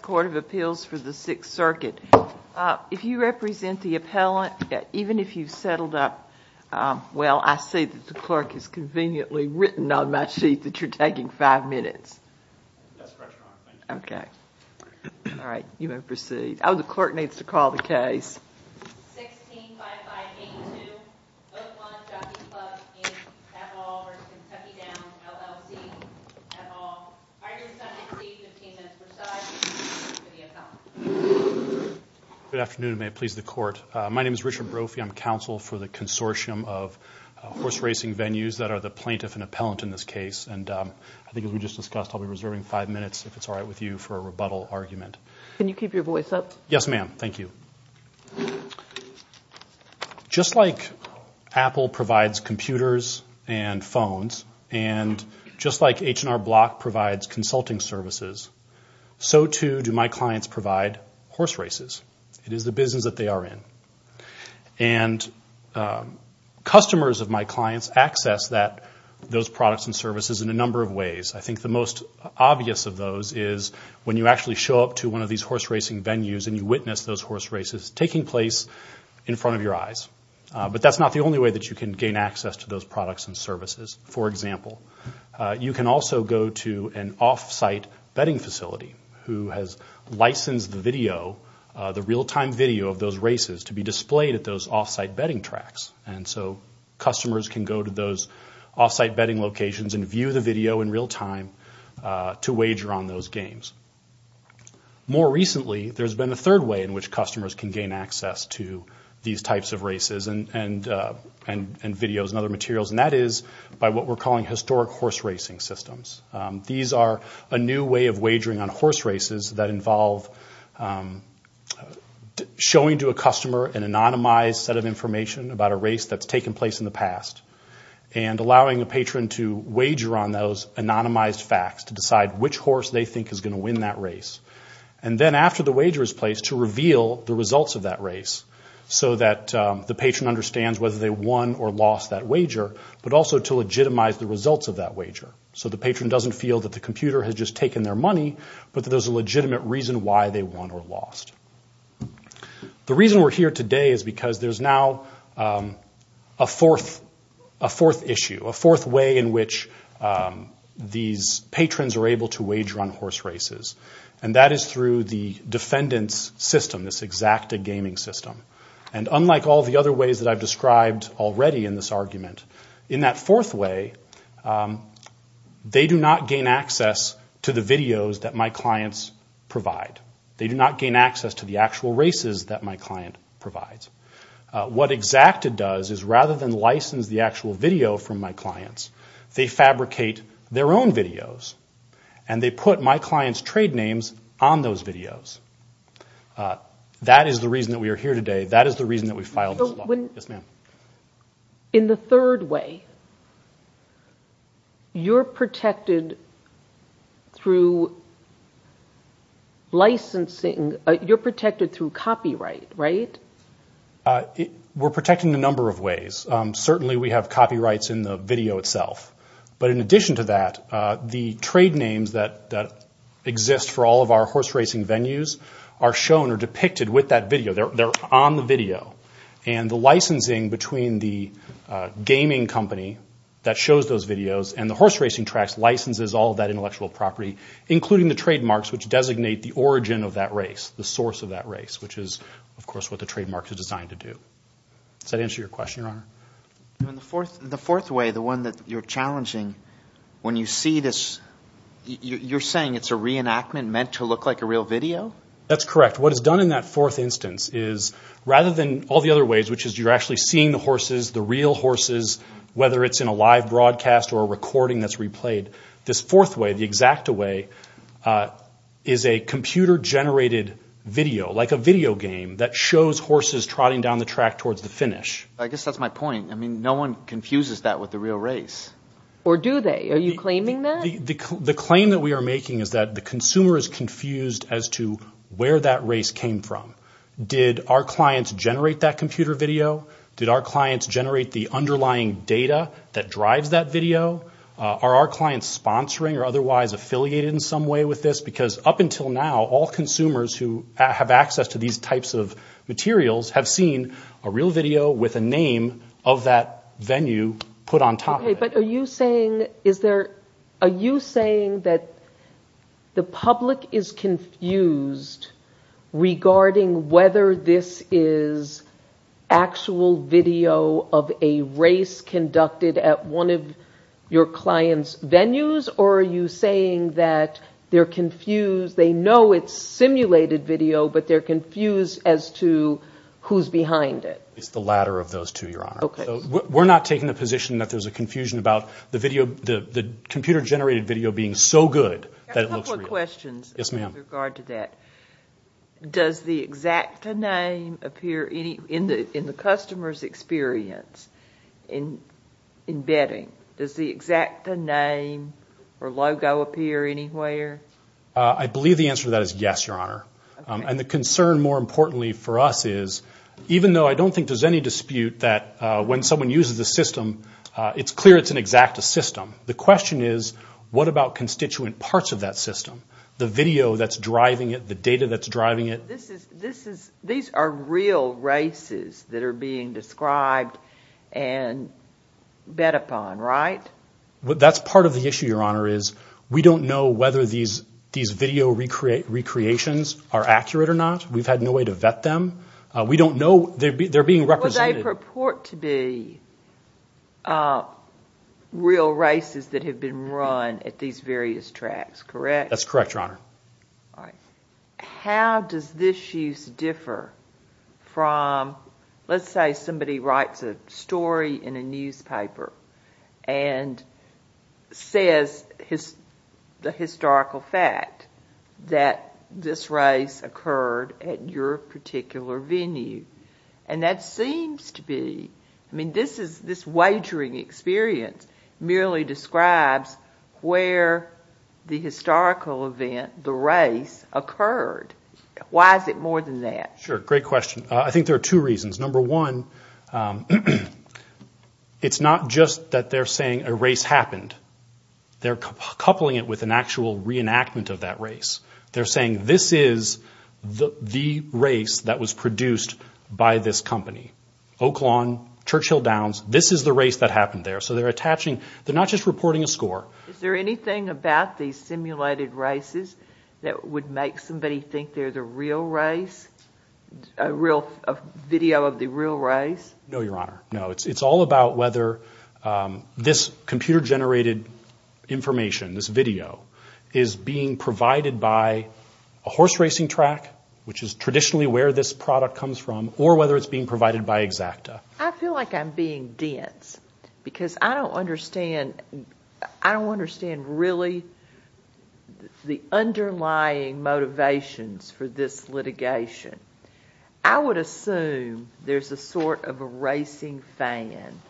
Court of Appeals for the Sixth Circuit if you represent the appellant even if you've settled up well I see that the clerk has conveniently written on my sheet that you're taking five minutes okay all right you may proceed oh the clerk needs to call the case good afternoon may it please the court my name is Richard Brophy I'm counsel for the consortium of horse racing venues that are the plaintiff and appellant in this case and I think we just discussed I'll be reserving five minutes if it's all right with you for a rebuttal argument can you keep your voice up yes ma'am thank you just like Apple provides computers and phones and just like H&R Block provides consulting services so too do my clients provide horse races it is the business that they are in and customers of my clients access that those products and services in a number of ways I think the most obvious of those is when you actually show up to one of these horse racing venues and you witness those horse races taking place in front of your eyes but that's not the only way that you can gain access to those products and services for example you can also go to an off-site betting facility who has licensed the video the real-time video of those races to be displayed at those off-site betting tracks and so customers can go to those off-site betting locations and view the video in real time to wager on those games more recently there's been a third way in which customers can gain access to these types of races and and and and videos and other materials and that is by what we're calling historic horse racing systems these are a new way of wagering on horse races that involve showing to a customer an anonymized set of information about a race that's taken place in the past and allowing a patron to wager on those anonymized facts to decide which horse they think is going to win that race and then after the wager is placed to reveal the results of that race so that the patron understands whether they won or lost that wager but also to legitimize the results of that wager so the patron doesn't feel that the computer has just taken their money but there's a legitimate reason why they won or lost the reason we're here today is because there's now a fourth a fourth issue a fourth way in which these patrons are able to wage run horse races and that is through the defendants system this exact a gaming system and unlike all the other ways that I've described already in this argument in that fourth way they do not gain access to the videos that my clients provide they do not gain access to the actual races that my client provides what exact it does is rather than license the actual video from my clients they fabricate their own videos and they put my clients trade names on those videos that is the reason that we are here today that is the reason that we filed in the third way you're protected through licensing you're protected through copyright right we're protecting a number of ways certainly we have copyrights in the video itself but in addition to that the trade names that that exist for all of our horse racing venues are shown or depicted with that video they're on the video and the licensing between the gaming company that shows those videos and the horse racing tracks licenses all that intellectual property including the trademarks which designate the origin of that race the source of that race which is of course what the trademark is designed to do so to answer your question your honor the fourth the fourth way the one that you're challenging when you see this you're saying it's a reenactment meant to look like a real video that's correct what is done in that fourth instance is rather than all the other ways which is you're actually seeing the horses the real horses whether it's in a live broadcast or a recording that's replayed this fourth way the exact away is a computer generated video like a video game that shows horses trotting down the track towards the finish I guess that's my point I mean no one confuses that with the real race or do they are you claiming that the claim that we are making is that the consumer is confused as to where that race came from did our clients generate that computer video did our clients generate the underlying data that drives that video are our clients sponsoring or otherwise affiliated in some way with this because up until now all consumers who have access to these types of materials have seen a real video with a name of that venue put on top but are you saying is there are you saying that the public is confused regarding whether this is actual video of a race conducted at one of your clients venues or are you saying that they're confused they know it's simulated video but they're confused as to who's behind it it's the latter of those two your honor okay we're not taking the position that there's a confusion about the computer generated video being so good that it looks real. I have a couple of questions in regard to that. Does the exact name appear in the customer's experience in embedding does the exact name or logo appear anywhere? I believe the answer to that is yes your honor and the concern more importantly for us is even though I don't think there's any dispute that when someone uses the system the question is what about constituent parts of that system the video that's driving it the data that's driving it this is this is these are real races that are being described and bet upon right well that's part of the issue your honor is we don't know whether these these video recreate recreations are accurate or not we've had no way to vet them we don't know they're being represented they purport to be uh real races that have been run at these various tracks correct that's correct your honor all right how does this use differ from let's say somebody writes a story in a newspaper and says his the historical fact that this race occurred at your particular venue and that seems to be I mean this is this wagering experience merely describes where the historical event the race occurred why is it more than that sure great question I think there are two reasons number one it's not just that they're saying a race happened they're coupling it with an actual reenactment of that race they're saying this is the the race that was produced by this company oaklawn churchill downs this is the race that happened there so they're attaching they're not just reporting a score is there anything about these simulated races that would make somebody think they're the real race a real video of the real race no your honor no it's all about whether this computer generated information this video is being provided by a horse racing track which is traditionally where this product comes from or whether it's being provided by exacta I feel like I'm being dense because I don't understand I don't understand really the underlying motivations for this litigation I would assume there's a sort of a racing fan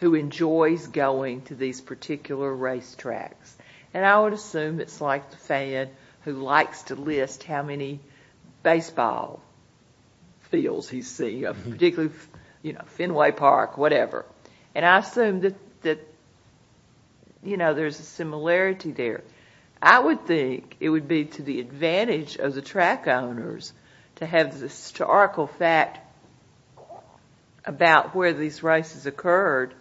who enjoys going to these particular race tracks and I would assume it's like the fan who likes to list how many baseball fields he's seeing particularly you know Fenway Park whatever and I assume that that you know there's a similarity there I would think it would be to the advantage of the track owners to have the historical fact about where these races occurred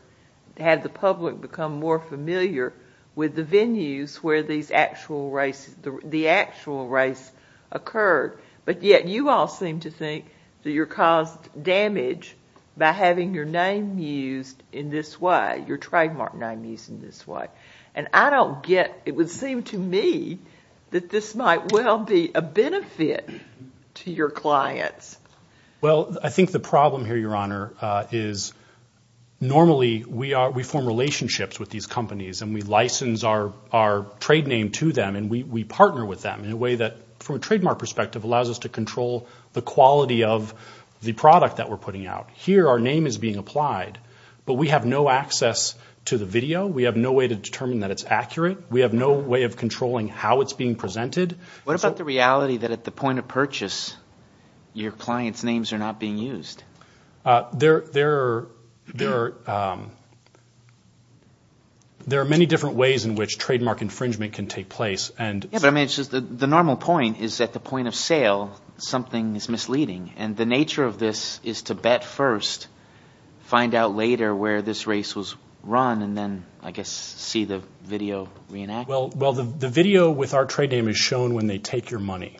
to have the public become more familiar with the venues where these actual races the actual race occurred but yet you all seem to think that you're caused damage by having your name used in this way your trademark name used in this way and I don't get it would seem to me that this might well be a benefit to your clients well I think the problem here your honor is normally we are we form relationships with these companies and we license our our trade name to them and we partner with them in a way that from a trademark perspective allows us to control the quality of the product that we're putting out here our name is being applied but we have no access to the video we have no way to determine that it's accurate we have no way of controlling how it's being presented what about the reality that at the point of purchase your clients names are not being used there there there there are many different ways in which trademark infringement can take place and yeah but I mean it's just the normal point is at the point of sale something is misleading and the nature of this is to bet first find out later where this race was run and then I guess see the video reenact well well the video with our trade name is shown when they take your money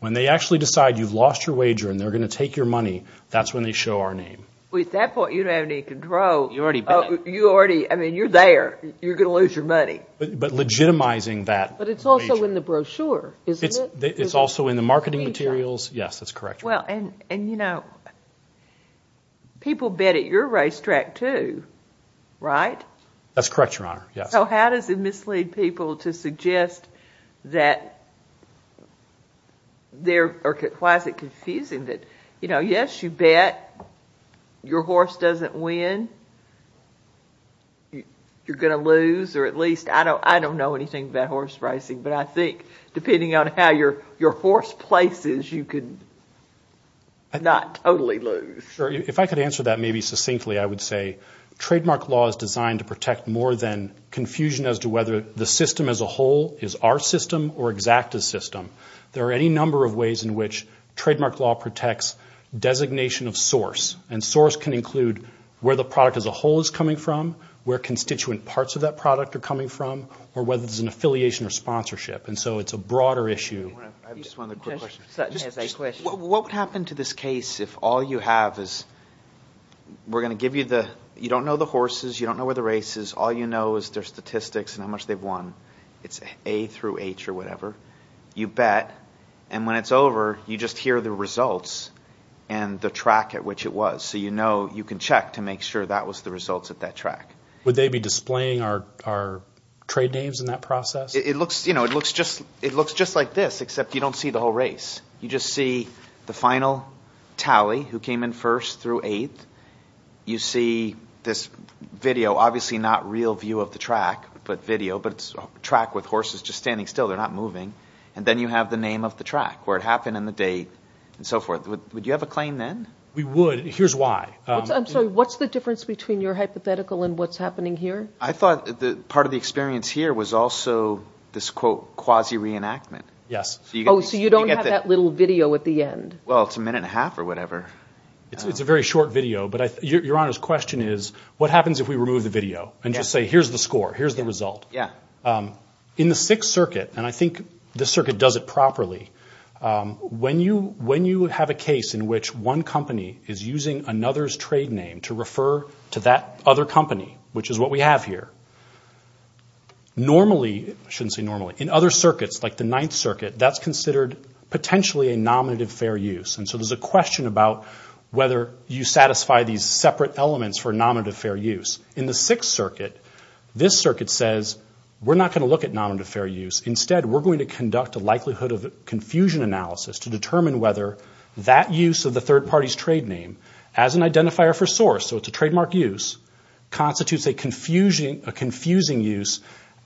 when they actually decide you've lost your wager and they're going to take your money that's when they show our name well at that point you don't have any control you're already you already I mean you're there you're going to lose your money but legitimizing that but it's also in the brochure isn't it it's also in the marketing materials yes that's correct well and and you know people bet at your racetrack too right that's correct your honor yes so how does it mislead people to suggest that there or why is it confusing that you know yes you bet your horse doesn't win you're gonna lose or at least I don't I don't know anything about horse racing but I think depending on how your your horse places you could not totally lose sure if I could answer that maybe succinctly I would say trademark law is designed to protect more than confusion as to whether the system as a whole is our system or exact a system there are any number of ways in which trademark law protects designation of source and source can include where the product as a whole is coming from where constituent parts of that product are coming from or whether it's an issue what would happen to this case if all you have is we're going to give you the you don't know the horses you don't know where the race is all you know is their statistics and how much they've won it's a through h or whatever you bet and when it's over you just hear the results and the track at which it was so you know you can check to make sure that was the results at that track would they be displaying our our trade names in that process it looks you know it looks just it looks just like this except you don't see the whole race you just see the final tally who came in first through eighth you see this video obviously not real view of the track but video but it's a track with horses just standing still they're not moving and then you have the name of the track where it happened in the day and so forth would you have a claim then we would here's why I'm sorry what's the I thought the part of the experience here was also this quote quasi reenactment yes so you don't have that little video at the end well it's a minute and a half or whatever it's a very short video but I your honor's question is what happens if we remove the video and just say here's the score here's the result yeah in the sixth circuit and I think this circuit does it properly when you when you have a case in which one company is using another's trade name to refer to that other which is what we have here normally shouldn't say normally in other circuits like the ninth circuit that's considered potentially a nominative fair use and so there's a question about whether you satisfy these separate elements for a nominative fair use in the sixth circuit this circuit says we're not going to look at nominative fair use instead we're going to conduct a likelihood of confusion analysis to determine whether that use of the third party's trade name as an identifier for source so it's a trademark use constitutes a confusion a confusing use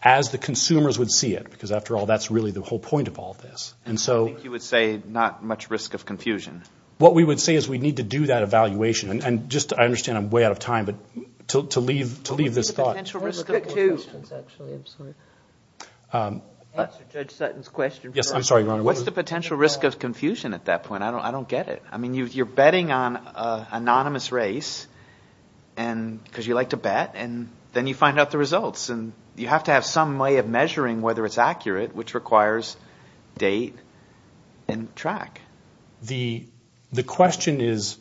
as the consumers would see it because after all that's really the whole point of all this and so you would say not much risk of confusion what we would say is we need to do that evaluation and just I understand I'm way out of time but to leave to leave this thought actually I'm sorry um judge Sutton's question yes I'm sorry what's the potential risk of confusion at that point I don't I don't get it I mean you you're betting on a anonymous race and because you like to bet and then you find out the results and you have to have some way of measuring whether it's accurate which requires date and track the the question is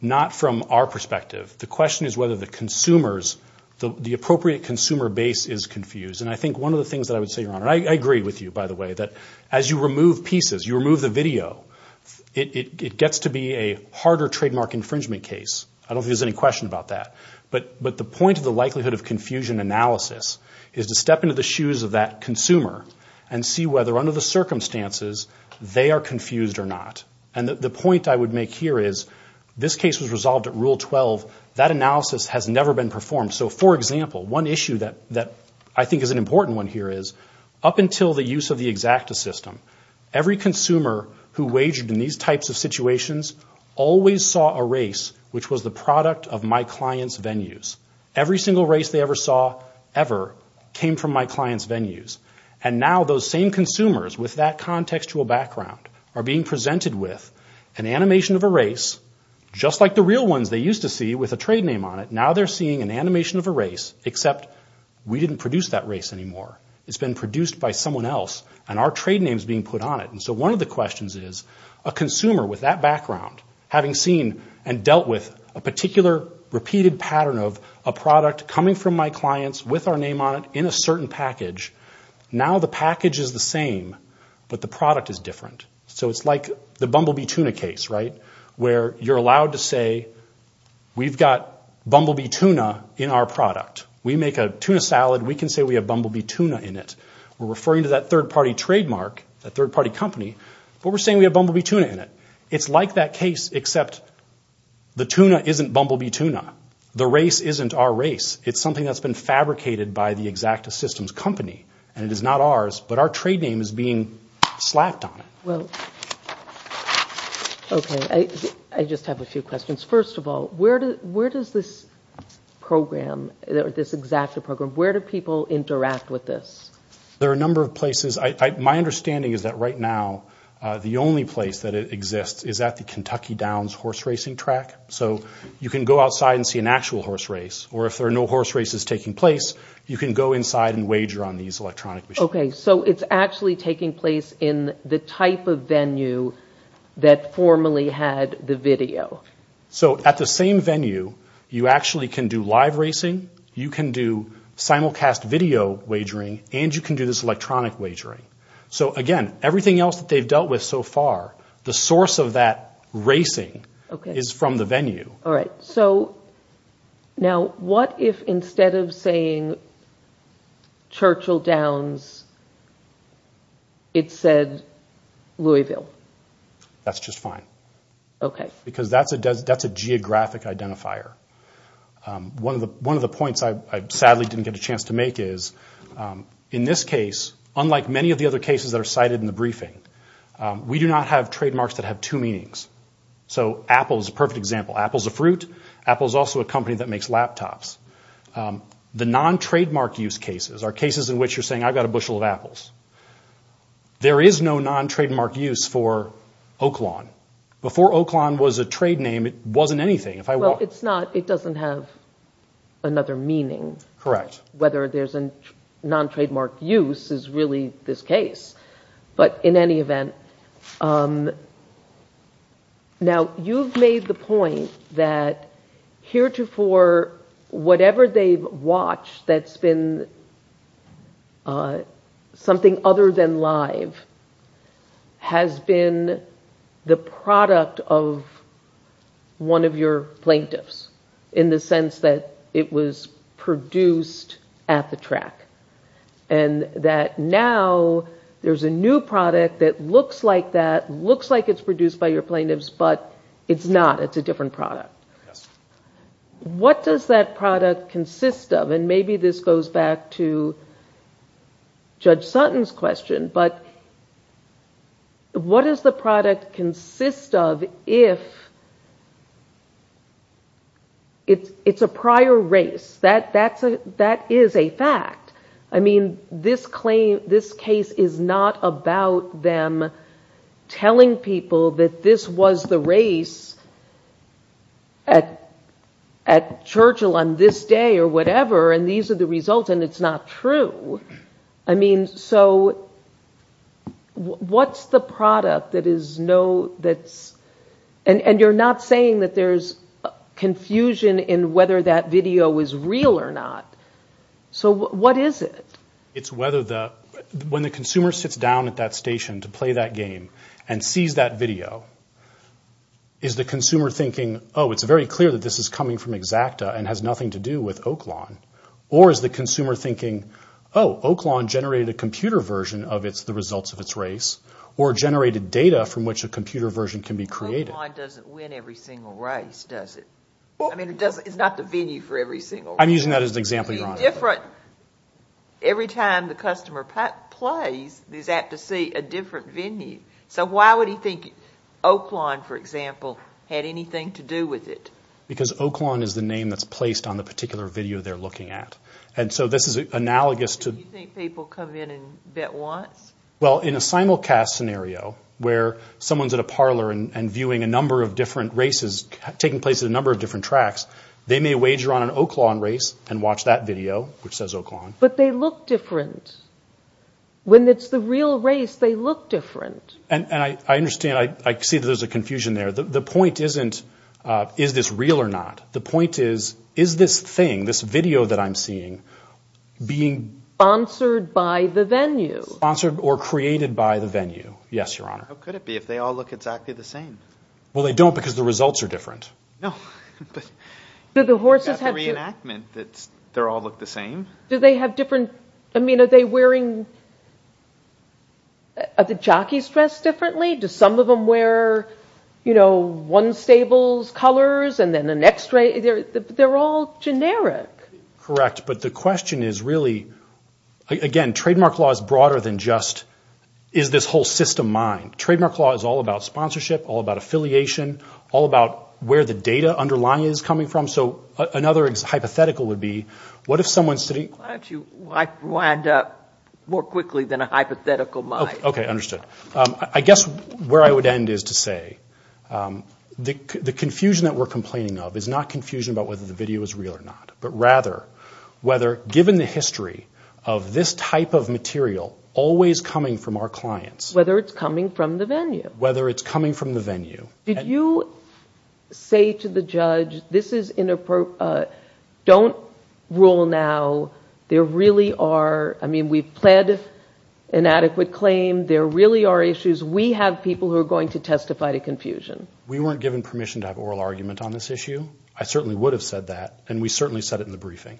not from our perspective the question is whether the consumers the appropriate consumer base is confused and I think one of the things that I would say your honor I agree with you by the way that as you remove pieces you remove the video it gets to be a harder trademark infringement case I don't think there's any question about that but but the point of the likelihood of confusion analysis is to step into the shoes of that consumer and see whether under the circumstances they are confused or not and the point I would make here is this case was resolved at rule 12 that analysis has never been performed so for example one issue that that I think is an important one here is up until the use of the exacta system every consumer who wagered in these types of situations always saw a race which was the product of my client's venues every single race they ever saw ever came from my client's venues and now those same consumers with that contextual background are being presented with an animation of a race just like the real ones they used to see with a trade name on it now they're seeing an animation of a race except we didn't produce that race anymore it's been produced by someone else and our trade names being put on it and so one of the questions is a consumer with that background having seen and dealt with a particular repeated pattern of a product coming from my clients with our name on it in a certain package now the package is the same but the product is different so it's like the bumblebee tuna case right where you're allowed to say we've got bumblebee tuna in our product we make a tuna salad we can say we have bumblebee tuna in it we're referring to that third-party trademark that third-party company but we're saying we have bumblebee tuna in it it's like that case except the tuna isn't bumblebee tuna the race isn't our race it's something that's been fabricated by the exacta systems company and it is not ours but our trade name is being slapped on it well okay i i just have a few questions first of all where do where does this program this exacta program where do people interact with this there are a number of places i my understanding is that right now uh the only place that it exists is at the kentucky downs horse racing track so you can go outside and see an actual horse race or if there are no horse races taking place you can go inside and wager on these electronic machines okay so it's actually taking place in the type of venue that formerly had the video so at the same venue you actually can do live racing you can do simulcast video wagering and you can do this electronic wagering so again everything else that they've dealt with so far the source of that racing okay is from the venue all right so now what if instead of saying churchill downs it said louisville that's just fine okay because that's a that's a geographic identifier one of the one of the points i i sadly didn't get a chance to make is in this case unlike many of the other cases that are cited in the briefing we do not have trademarks that have two meanings so apple is a perfect example apple's a fruit apple is also a company that makes laptops the non-trademark use cases are cases in which you're saying i've got a bushel of apples there is no non-trademark use for oaklawn before oaklawn was a trade name it wasn't anything if i well it's not it doesn't have another meaning correct whether there's a non-trademark use is really this case but in any event um now you've made the point that heretofore whatever they've watched that's been uh something other than live has been the product of one of your plaintiffs in the sense that it was produced at the track and that now there's a new product that looks like that looks like it's produced by your plaintiffs but it's not it's a different product yes what does that product consist of and maybe this goes back to judge sutton's question but what does the product consist of if it's it's a prior race that that's a that is a fact i mean this claim this case is not about them telling people that this was the race at at churchill on this day or whatever and these are the results and it's not true i mean so what's the product that is no that's and and you're not saying that there's confusion in whether that video is real or not so what is it it's whether the when the consumer sits down at that station to play that game and sees that video is the consumer thinking oh it's very clear that this is coming from exacta and has nothing to do with oaklawn or is the consumer thinking oh oaklawn generated a computer version of it's the results of its race or generated data from which a computer version can be created doesn't win every single race does it well i mean it doesn't it's not the venue for every single i'm using that as example you're on different every time the customer plays is apt to see a different venue so why would he think oaklawn for example had anything to do with it because oaklawn is the name that's placed on the particular video they're looking at and so this is analogous to people come in and bet once well in a simulcast scenario where someone's at a parlor and viewing a number of different races taking place at a number of different tracks they may wager on an oaklawn race and watch that video which says oaklawn but they look different when it's the real race they look different and and i i understand i i see that there's a confusion there the the point isn't uh is this real or not the point is is this thing this video that i'm seeing being sponsored by the venue sponsored or created by the venue yes your honor how could it be if they all look exactly the same well they don't because the results are different no but the horses have reenactment that's they're all look the same do they have different i mean are they wearing are the jockeys dressed differently do some of them wear you know one stables colors and then the next day they're they're all generic correct but the question is really again trademark law is broader than just is this whole system mine trademark law is all about sponsorship all about affiliation all about where the data underlying is coming from so another hypothetical would be what if someone's sitting why don't you why wind up more quickly than a hypothetical mind okay understood um i guess where i would end is to say um the the confusion that we're complaining of is not confusion about whether the video is real or not but rather whether given the history of this type of material always coming from our clients whether it's coming from the venue whether it's coming from the venue did you say to the judge this is inappropriate don't rule now there really are i mean we've pled inadequate claim there really are issues we have people who are going to testify to confusion we weren't given permission to have oral argument on this issue i certainly would have said that and we certainly said it in the briefing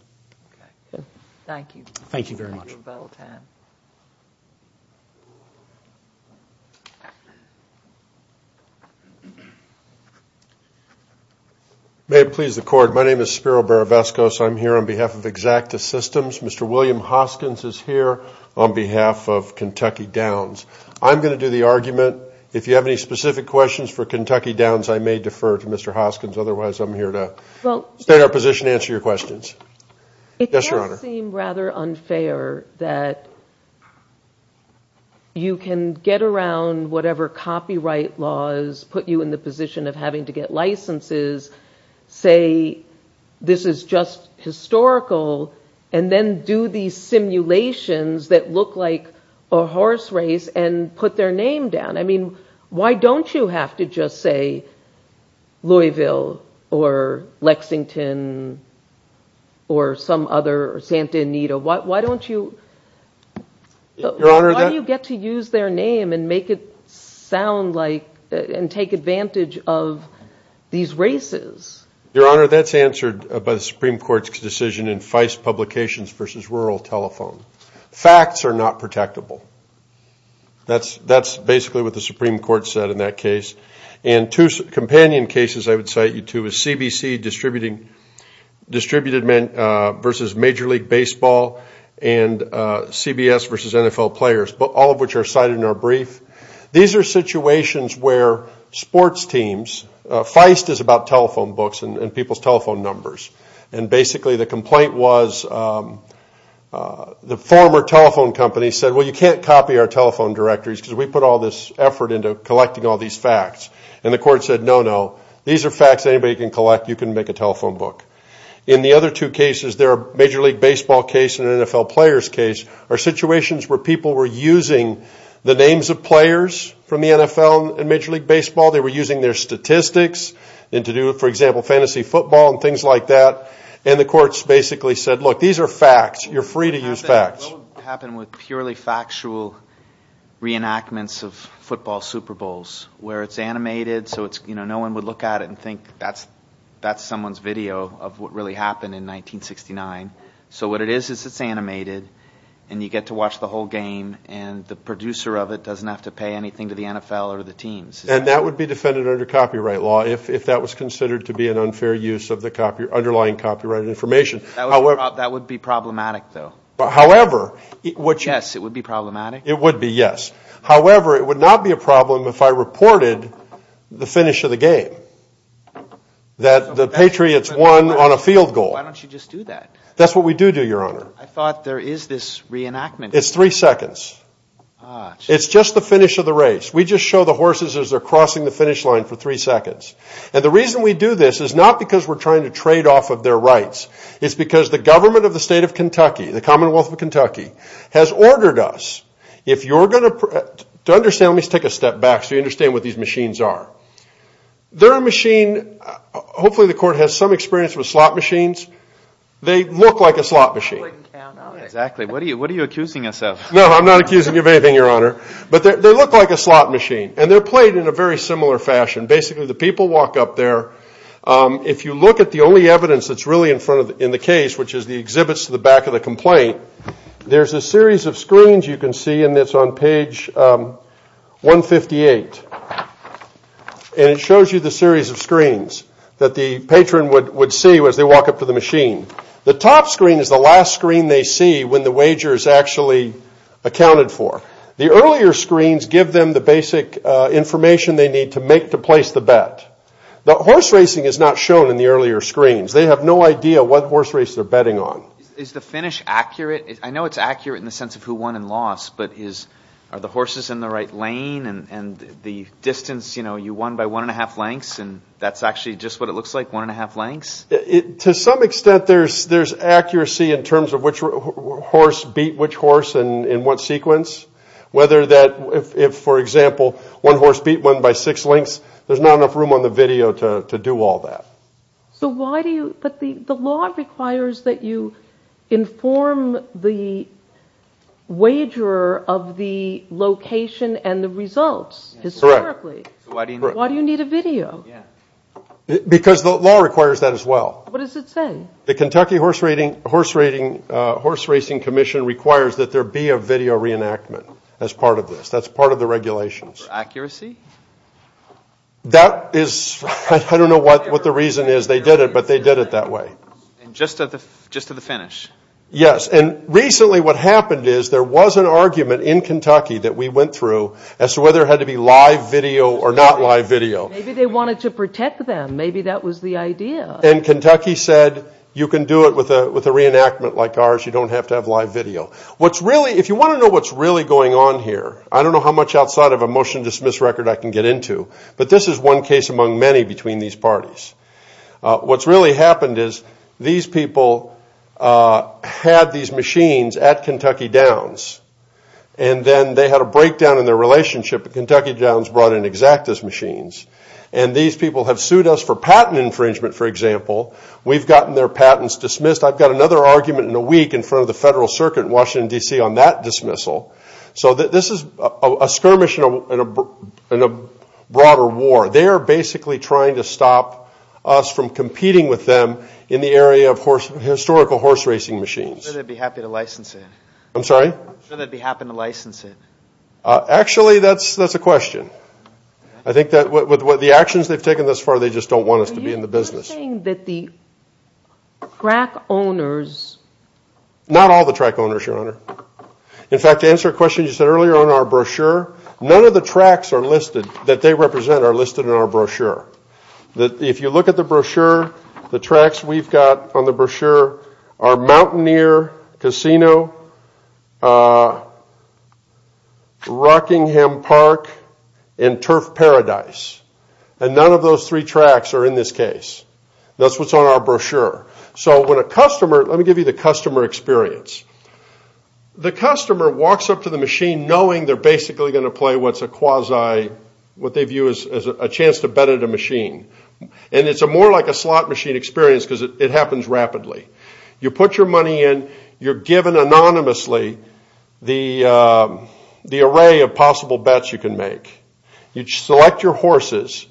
okay thank you thank you very much may it please the court my name is spiro barabasco so i'm here on behalf of exacta systems mr william hoskins is here on behalf of kentucky downs i'm going to do the argument if you have any specific questions for kentucky downs i may defer to mr hoskins otherwise i'm here to well stay in our position to answer your questions it does seem rather unfair that you can get around whatever copyright laws put you in the position of having to get licenses say this is just historical and then do these simulations that look like a horse race and put their name down i mean why don't you have to just say louisville or lexington or some other santa anita why don't you your honor that you get to use their name and make it sound like and take advantage of these races your honor that's answered by the supreme court's decision in feist publications versus rural telephone facts are not protectable that's that's basically what the supreme court said in that case and two companion cases i would cite you to is cbc distributing distributed men uh versus major league baseball and uh cbs versus nfl players but all of which are cited in our brief these are situations where sports teams feist is about telephone books and people's telephone numbers and basically the complaint was um uh the former telephone company said well you can't copy our telephone directories because we put all this effort into collecting all these facts and the court said no no these are facts anybody can collect you can make a telephone book in the other two cases there are major league baseball case and nfl players case are situations where people were using the names of players from the nfl and major league baseball they were using their statistics and to do for example fantasy football and things like that and the courts basically said look these are facts you're free to use facts happen with purely factual reenactments of football superbowls where it's animated so it's you know no one would look at it and think that's that's someone's video of what really happened in 1969 so what it is is it's animated and you get to watch the whole game and the producer of it doesn't have to pay anything to the nfl or the teams and that would be defended under copyright law if if that was considered to be an unfair use of the copy underlying copyright information however that would be problematic though but however it would yes it would be problematic it would be yes however it would not be a problem if i reported the finish of the game that the patriots won on a field goal why don't you just do that that's what we do do your honor i thought there is this reenactment it's three seconds it's just the finish of the race we just show the horses as they're crossing the finish line for three seconds and the reason we do this is not because we're trying to trade off of their rights it's because the government of the state of kentucky the commonwealth of kentucky has ordered us if you're going to understand let me take a step back so you understand what these machines are they're a machine hopefully the court has some experience with slot machines they look like a slot machine exactly what do you what are you accusing us of no i'm not accusing you of anything your honor but they look like a slot machine and they're played in a very similar fashion basically the people walk up there if you look at the only evidence that's really in front of in the case which is the exhibits to the back of the complaint there's a series of screens you can see and it's on page 158 and it shows you the series of screens that the patron would would see as they walk up to the machine the top screen is the last screen they see when the wager is actually accounted for the earlier screens give them the basic information they need to make to place the bet the horse racing is not shown in the earlier screens they have no idea what horse race they're betting on is the finish accurate i know it's accurate in the sense of who won and lost but is are the horses in the right lane and and the distance you know you won by one and a half lengths and that's actually just what it looks like one and a half lengths it to some extent there's there's in what sequence whether that if for example one horse beat one by six lengths there's not enough room on the video to to do all that so why do you but the the law requires that you inform the wagerer of the location and the results historically why do you need a video because the law requires that as well what does it say the kentucky horse rating horse rating commission requires that there be a video reenactment as part of this that's part of the regulations accuracy that is i don't know what what the reason is they did it but they did it that way and just at the just to the finish yes and recently what happened is there was an argument in kentucky that we went through as to whether it had to be live video or not live video maybe they wanted to protect them maybe that was the idea and kentucky said you can do it with a with a reenactment like ours you don't have to have live video what's really if you want to know what's really going on here i don't know how much outside of a motion dismiss record i can get into but this is one case among many between these parties what's really happened is these people had these machines at kentucky downs and then they had a breakdown in their relationship and kentucky downs brought in exactus machines and these people have sued us for patent infringement for example we've gotten their patents dismissed i've got another argument in a week in front of the federal circuit in washington dc on that dismissal so this is a skirmish in a in a broader war they are basically trying to stop us from competing with them in the area of horse historical horse racing machines they'd be happy to license it i'm sorry i'm sure they'd be happy to license it uh actually that's that's a question i think that with what the actions they've taken thus far they just don't us to be in the business that the track owners not all the track owners your honor in fact to answer a question you said earlier on our brochure none of the tracks are listed that they represent are listed in our brochure that if you look at the brochure the tracks we've got on the brochure are mountaineer casino uh rockingham park and turf paradise and none of those three tracks are in this case that's what's on our brochure so when a customer let me give you the customer experience the customer walks up to the machine knowing they're basically going to play what's a quasi what they view as a chance to bet at a machine and it's a more like a slot machine experience because it happens rapidly you put your money in you're given anonymously the uh the array of possible bets you can make you select your horses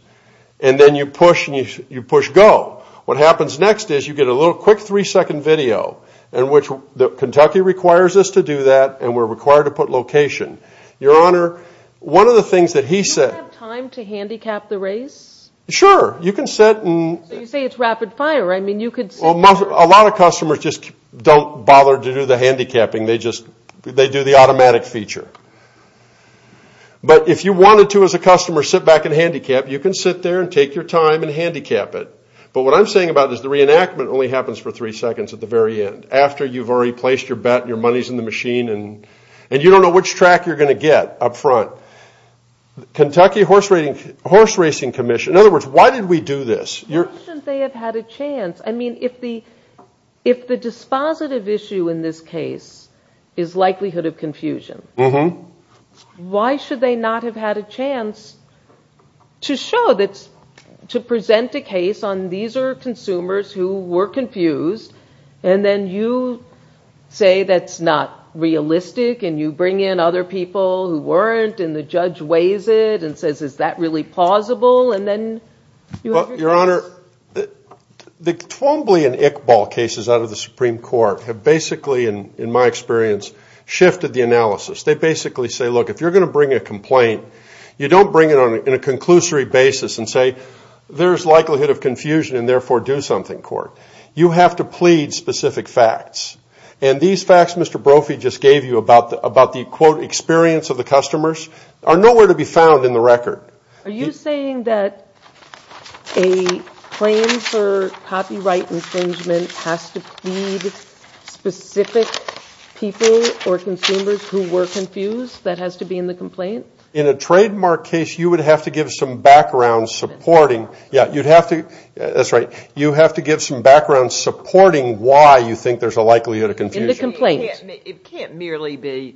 and then you push and you push go what happens next is you get a little quick three second video in which the kentucky requires us to do that and we're required to put location your honor one of the things that he said time to handicap the race sure you can sit and you say it's rapid fire i mean you could a lot of customers just don't bother to do the handicapping they just they do the automatic feature but if you wanted to as a customer sit back and handicap you can sit there and take your time and handicap it but what i'm saying about is the reenactment only happens for three seconds at the very end after you've already placed your bet your money's in the machine and and you don't know which track you're going to get up front kentucky horse rating horse racing commission in other words why did we do this your they have had a chance i mean if the if the dispositive issue in this case is likelihood of confusion why should they not have had a chance to show that to present a case on these are consumers who were confused and then you say that's not realistic and you bring in other people who weren't and the judge weighs it and says is that really plausible and then your honor the twombly and ick ball cases out of the supreme court have basically in in my experience shifted the analysis they basically say look if you're going to bring a complaint you don't bring it on in a conclusory basis and say there's likelihood of confusion and therefore do something court you have to plead specific facts and these facts mr brophy just gave you about the about the quote experience of the customers are nowhere to be found in the record are you saying that a claim for copyright infringement has to feed specific people or consumers who were confused that has to be in the complaint in a trademark case you would have to give some background supporting yeah you'd have to that's right you have to give some background supporting why you think there's likelihood of confusion the complaint it can't merely be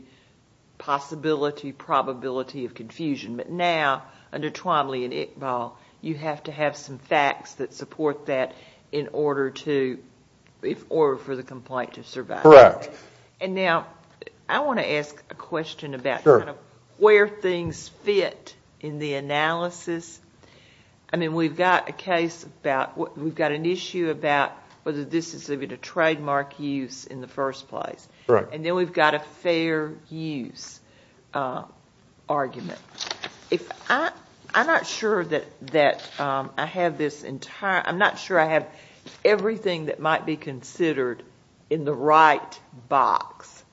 possibility probability of confusion but now under twombly and ick ball you have to have some facts that support that in order to if or for the complaint to survive correct and now i want to ask a question about kind of where things fit in the analysis i mean we've got a case about what we've got an issue about whether this is a bit of trademark use in the first place right and then we've got a fair use uh argument if i i'm not sure that that um i have this entire i'm not sure i have everything that might be considered in the right box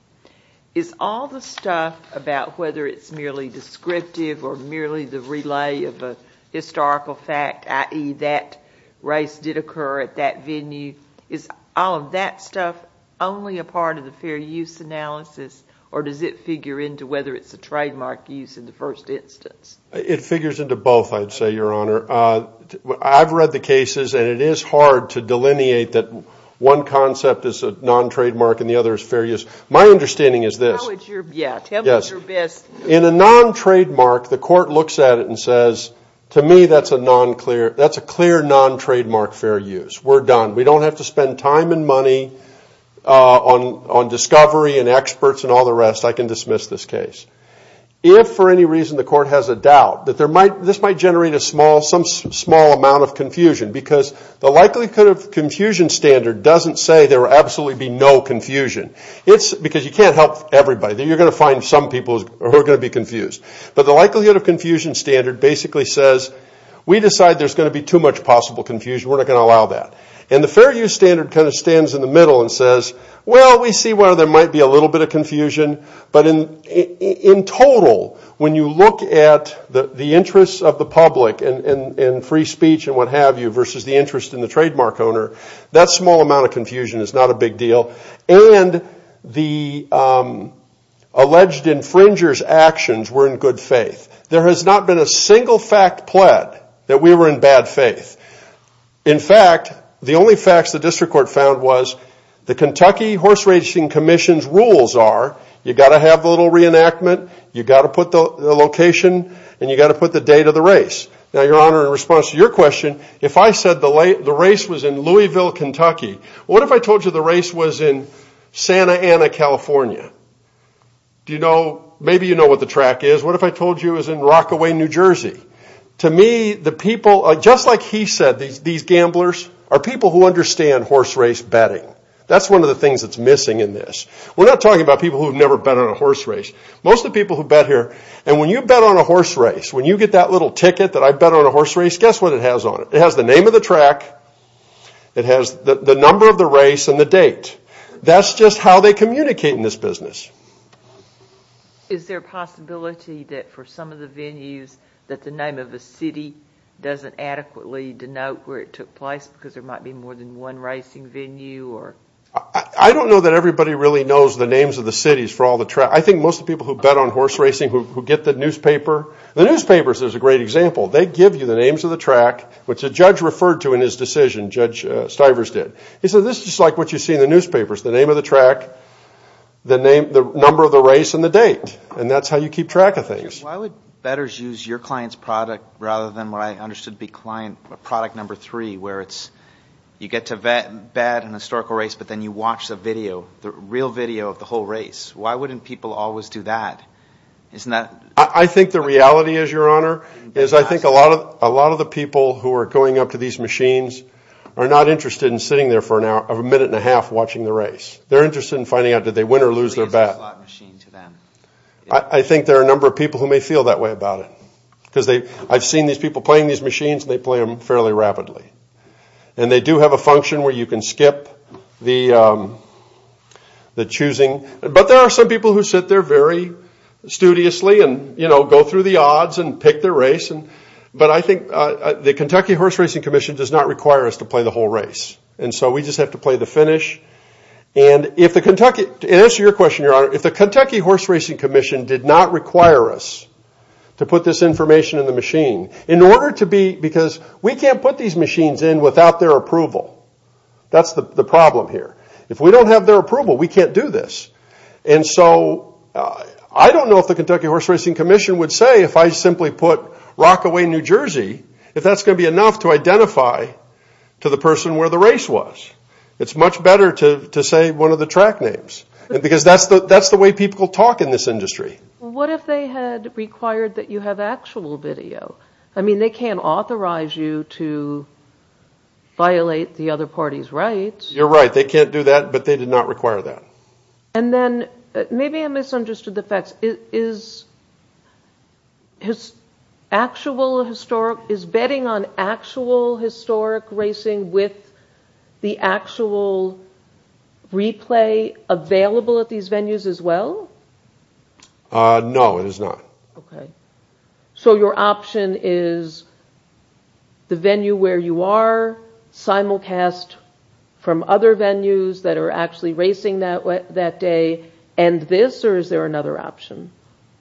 is all the stuff about whether it's merely descriptive or merely the relay of a historical fact i.e that race did occur at that venue is all of that stuff only a part of the fair use analysis or does it figure into whether it's a trademark use in the first instance it figures into both i'd say your honor uh i've read the cases and it is hard to delineate that one concept is a non-trademark and the other is fair use my understanding is this yeah tell me in a non-trademark the court looks at it and says to me that's a non-clear that's a clear non-trademark fair use we're done we don't have to spend time and money uh on on discovery and experts and all the rest i can dismiss this case if for any reason the court has a doubt that there might this might generate a small some small amount of confusion because the likelihood of confusion standard doesn't say there will absolutely be no confusion it's because you can't everybody you're going to find some people who are going to be confused but the likelihood of confusion standard basically says we decide there's going to be too much possible confusion we're not going to allow that and the fair use standard kind of stands in the middle and says well we see where there might be a little bit of confusion but in in total when you look at the the interests of the public and and free speech and what have you versus the interest in the trademark owner that small amount of confusion is not a big deal and the um alleged infringers actions were in good faith there has not been a single fact pled that we were in bad faith in fact the only facts the district court found was the kentucky horse racing commission's rules are you got to have a little reenactment you got to put the location and you got to put the date of the race now your honor in response to your question if i said the late the race was in louisville kentucky what if i told you the race was in santa anna california do you know maybe you know what the track is what if i told you is in rockaway new jersey to me the people just like he said these gamblers are people who understand horse race betting that's one of the things that's missing in this we're not talking about people who've never been on a horse race most of the people who bet here and when you bet on a horse race when you get that little ticket that i bet on a horse race guess what it has on it it has the name of the track it has the number of the race and the date that's just how they communicate in this business is there a possibility that for some of the venues that the name of the city doesn't adequately denote where it took place because there might be more than one racing venue or i don't know that everybody really knows the horse racing who get the newspaper the newspapers there's a great example they give you the names of the track which the judge referred to in his decision judge stivers did he said this is like what you see in the newspapers the name of the track the name the number of the race and the date and that's how you keep track of things why would betters use your client's product rather than what i understood to be client product number three where it's you get to vet bad and historical race but then you watch the video the real video of the whole race why wouldn't people always do that isn't that i think the reality is your honor is i think a lot of a lot of the people who are going up to these machines are not interested in sitting there for an hour of a minute and a half watching the race they're interested in finding out did they win or lose their bet i think there are a number of people who may feel that way about it because they i've seen these people playing these machines and they play them fairly rapidly and they do have a function where you can skip the um the choosing but there are some people who sit there very studiously and you know go through the odds and pick their race and but i think uh the kentucky horse racing commission does not require us to play the whole race and so we just have to play the finish and if the kentucky to answer your question your honor if the kentucky horse racing commission did not require us to put this information in the machine in order to be because we can't put these machines in without their approval that's the the problem here if we don't have their approval we can't do this and so i don't know if the kentucky horse racing commission would say if i simply put rockaway new jersey if that's going to be enough to identify to the person where the race was it's much better to to say one of the track names because that's the that's the way people talk in this industry what if they had required that you have actual video i mean they can't authorize you to violate the other party's rights you're right they can't do that but they did not require that and then maybe i misunderstood the facts is his actual historic is betting on actual historic racing with the actual replay available at these venues as well uh no it is not okay so your option is the venue where you are simulcast from other venues that are actually racing that way that day and this or is there another option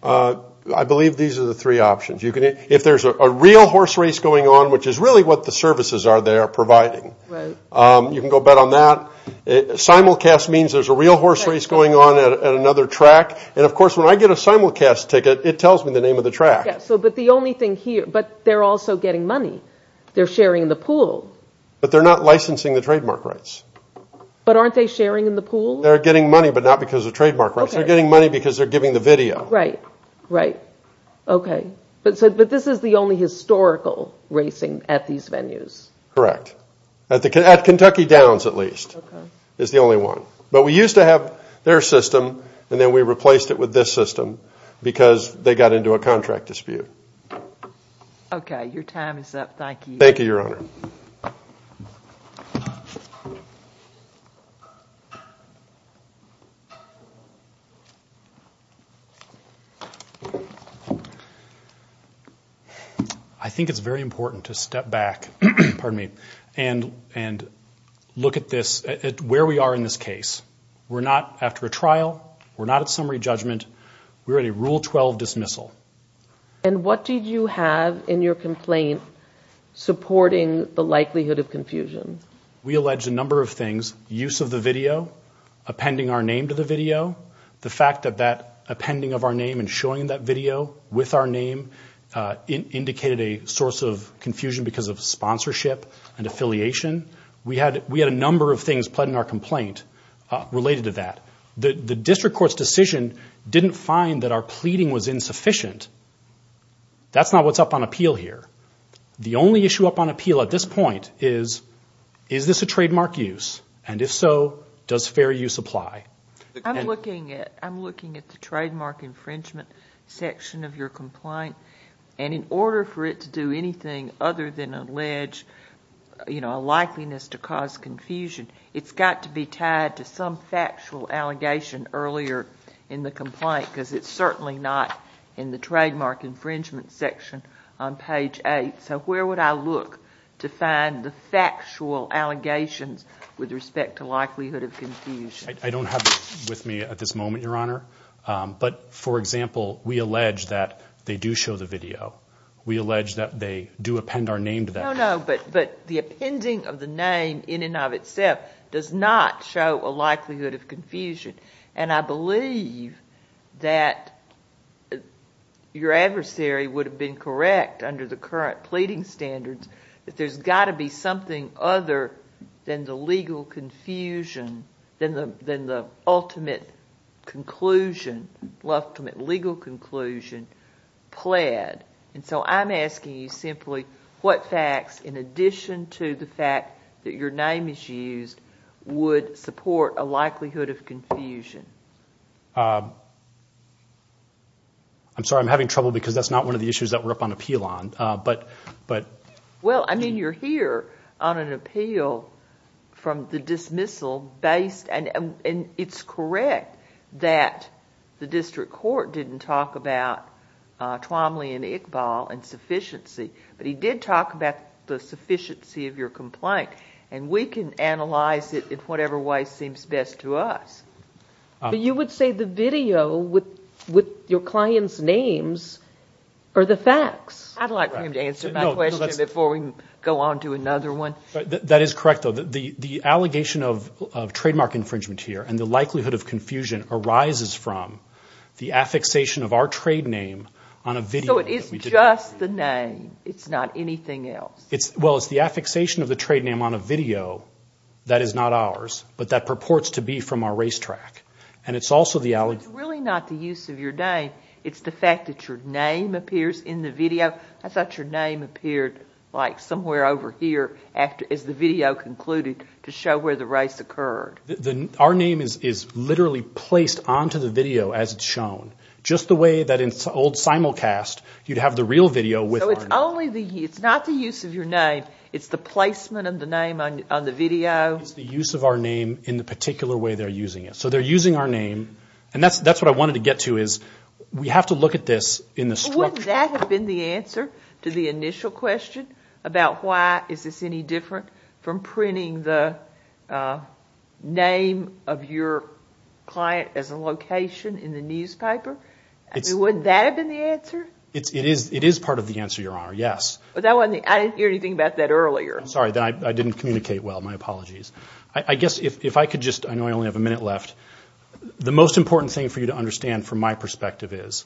uh i believe these are the three options you can if there's a real horse race going on which is really what the services are they are providing right um you can go bet on that simulcast means there's a real horse race going on at another track and of course when i get a simulcast ticket it tells me the name of the track so but the only thing here but they're also getting money they're sharing the pool but they're not licensing the trademark rights but aren't they sharing in the pool they're getting money but not because of trademark rights they're getting money because they're giving the video right right okay but so but this is the only historical racing at these venues correct at the at kentucky downs at least is the only one but we replaced it with this system because they got into a contract dispute okay your time is up thank you thank you your honor i think it's very important to step back pardon me and and look at where we are in this case we're not after a trial we're not at summary judgment we're at a rule 12 dismissal and what did you have in your complaint supporting the likelihood of confusion we alleged a number of things use of the video appending our name to the video the fact that that appending of our name and showing that video with our name uh indicated a source of confusion because of complaint uh related to that the the district court's decision didn't find that our pleading was insufficient that's not what's up on appeal here the only issue up on appeal at this point is is this a trademark use and if so does fair use apply i'm looking at i'm looking at the trademark infringement section of your complaint and in order for it to do anything other than allege you know a likeliness to cause confusion it's got to be tied to some factual allegation earlier in the complaint because it's certainly not in the trademark infringement section on page eight so where would i look to find the factual allegations with respect to likelihood of confusion i don't have with me at this moment your honor um but for example we allege that they do show the video we allege that they do append our name to that no no but but the appending of the name in and of itself does not show a likelihood of confusion and i believe that your adversary would have been correct under the current pleading standards that there's got to be something other than the legal confusion than the than the ultimate conclusion ultimate legal conclusion pled and so i'm asking you simply what facts in addition to the fact that your name is used would support a likelihood of confusion uh i'm sorry i'm having trouble because that's not one of the issues that we're up on appeal on uh but but well i mean you're on an appeal from the dismissal based and and it's correct that the district court didn't talk about uh tromley and iqbal and sufficiency but he did talk about the sufficiency of your complaint and we can analyze it in whatever way seems best to us but you would say the video with with your another one that is correct though the the allegation of of trademark infringement here and the likelihood of confusion arises from the affixation of our trade name on a video it's just the name it's not anything else it's well it's the affixation of the trade name on a video that is not ours but that purports to be from our racetrack and it's also the alley it's really not the use of your name it's the fact that your name appears in the video i thought your name appeared like somewhere over here after as the video concluded to show where the race occurred the our name is is literally placed onto the video as it's shown just the way that in old simulcast you'd have the real video with only the it's not the use of your name it's the placement of the name on on the video it's the use of our name in the particular way they're using it so they're using our name and that's that's what i wanted to get to is we have to look at this in the script that had been the answer to the initial question about why is this any different from printing the uh name of your client as a location in the newspaper would that have been the answer it's it is it is part of the answer your honor yes but that wasn't i didn't hear anything about that earlier i'm sorry then i didn't communicate well my apologies i i guess if if i could just i know i only have a minute left the most important thing for you to understand from my perspective is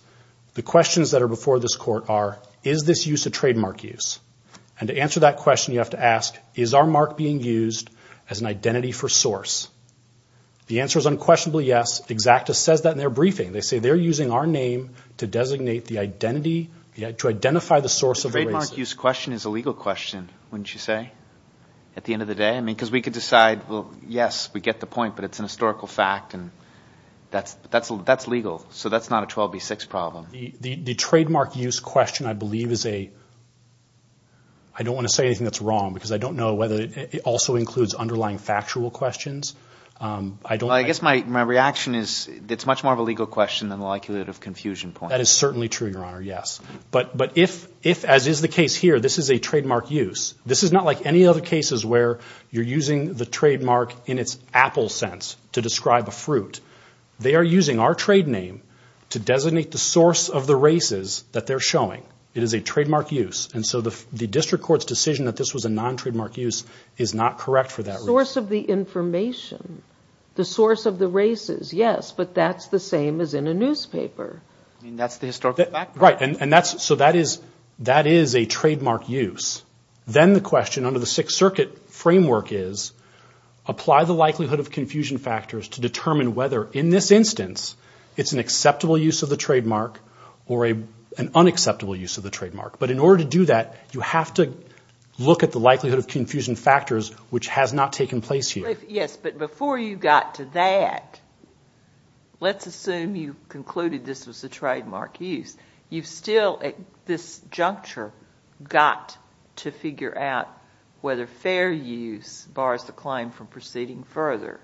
the questions that are before this court are is this use a trademark use and to answer that question you have to ask is our mark being used as an identity for source the answer is unquestionably yes exactus says that in their briefing they say they're using our name to designate the identity yet to identify the source of the trademark use question is a legal question wouldn't you say at the end of the day i mean because we could decide well yes we get the point but it's an historical fact and that's that's legal so that's not a 12b6 problem the the the trademark use question i believe is a i don't want to say anything that's wrong because i don't know whether it also includes underlying factual questions um i don't i guess my my reaction is it's much more of a legal question than the likelihood of confusion point that is certainly true your honor yes but but if if as is the case here this is a trademark use this is not like any other cases where you're using the trade name to designate the source of the races that they're showing it is a trademark use and so the the district court's decision that this was a non-trademark use is not correct for that source of the information the source of the races yes but that's the same as in a newspaper i mean that's the historical fact right and that's so that is that is a trademark use then the question under the sixth circuit framework is apply the likelihood of confusion factors to determine whether in this instance it's an acceptable use of the trademark or a an unacceptable use of the trademark but in order to do that you have to look at the likelihood of confusion factors which has not taken place here yes but before you got to that let's assume you concluded this was the trademark use you've still at this juncture got to figure out whether fair use bars the client from proceeding further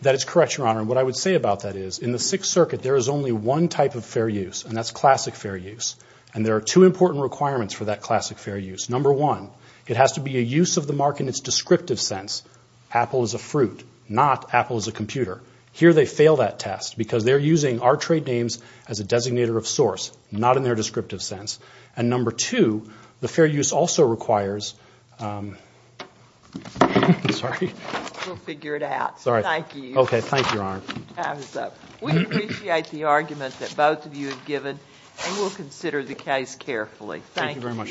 that is correct your honor what i would say about that is in the sixth circuit there is only one type of fair use and that's classic fair use and there are two important requirements for that classic fair use number one it has to be a use of the mark in its descriptive sense apple is a fruit not apple is a computer here they fail that test because they're using our trade names as a designator of source not in their descriptive sense and number two the fair use also requires um i'm sorry we'll figure it out sorry thank you okay thank you your honor we appreciate the argument that both of you have given and we'll consider the case carefully thank you very much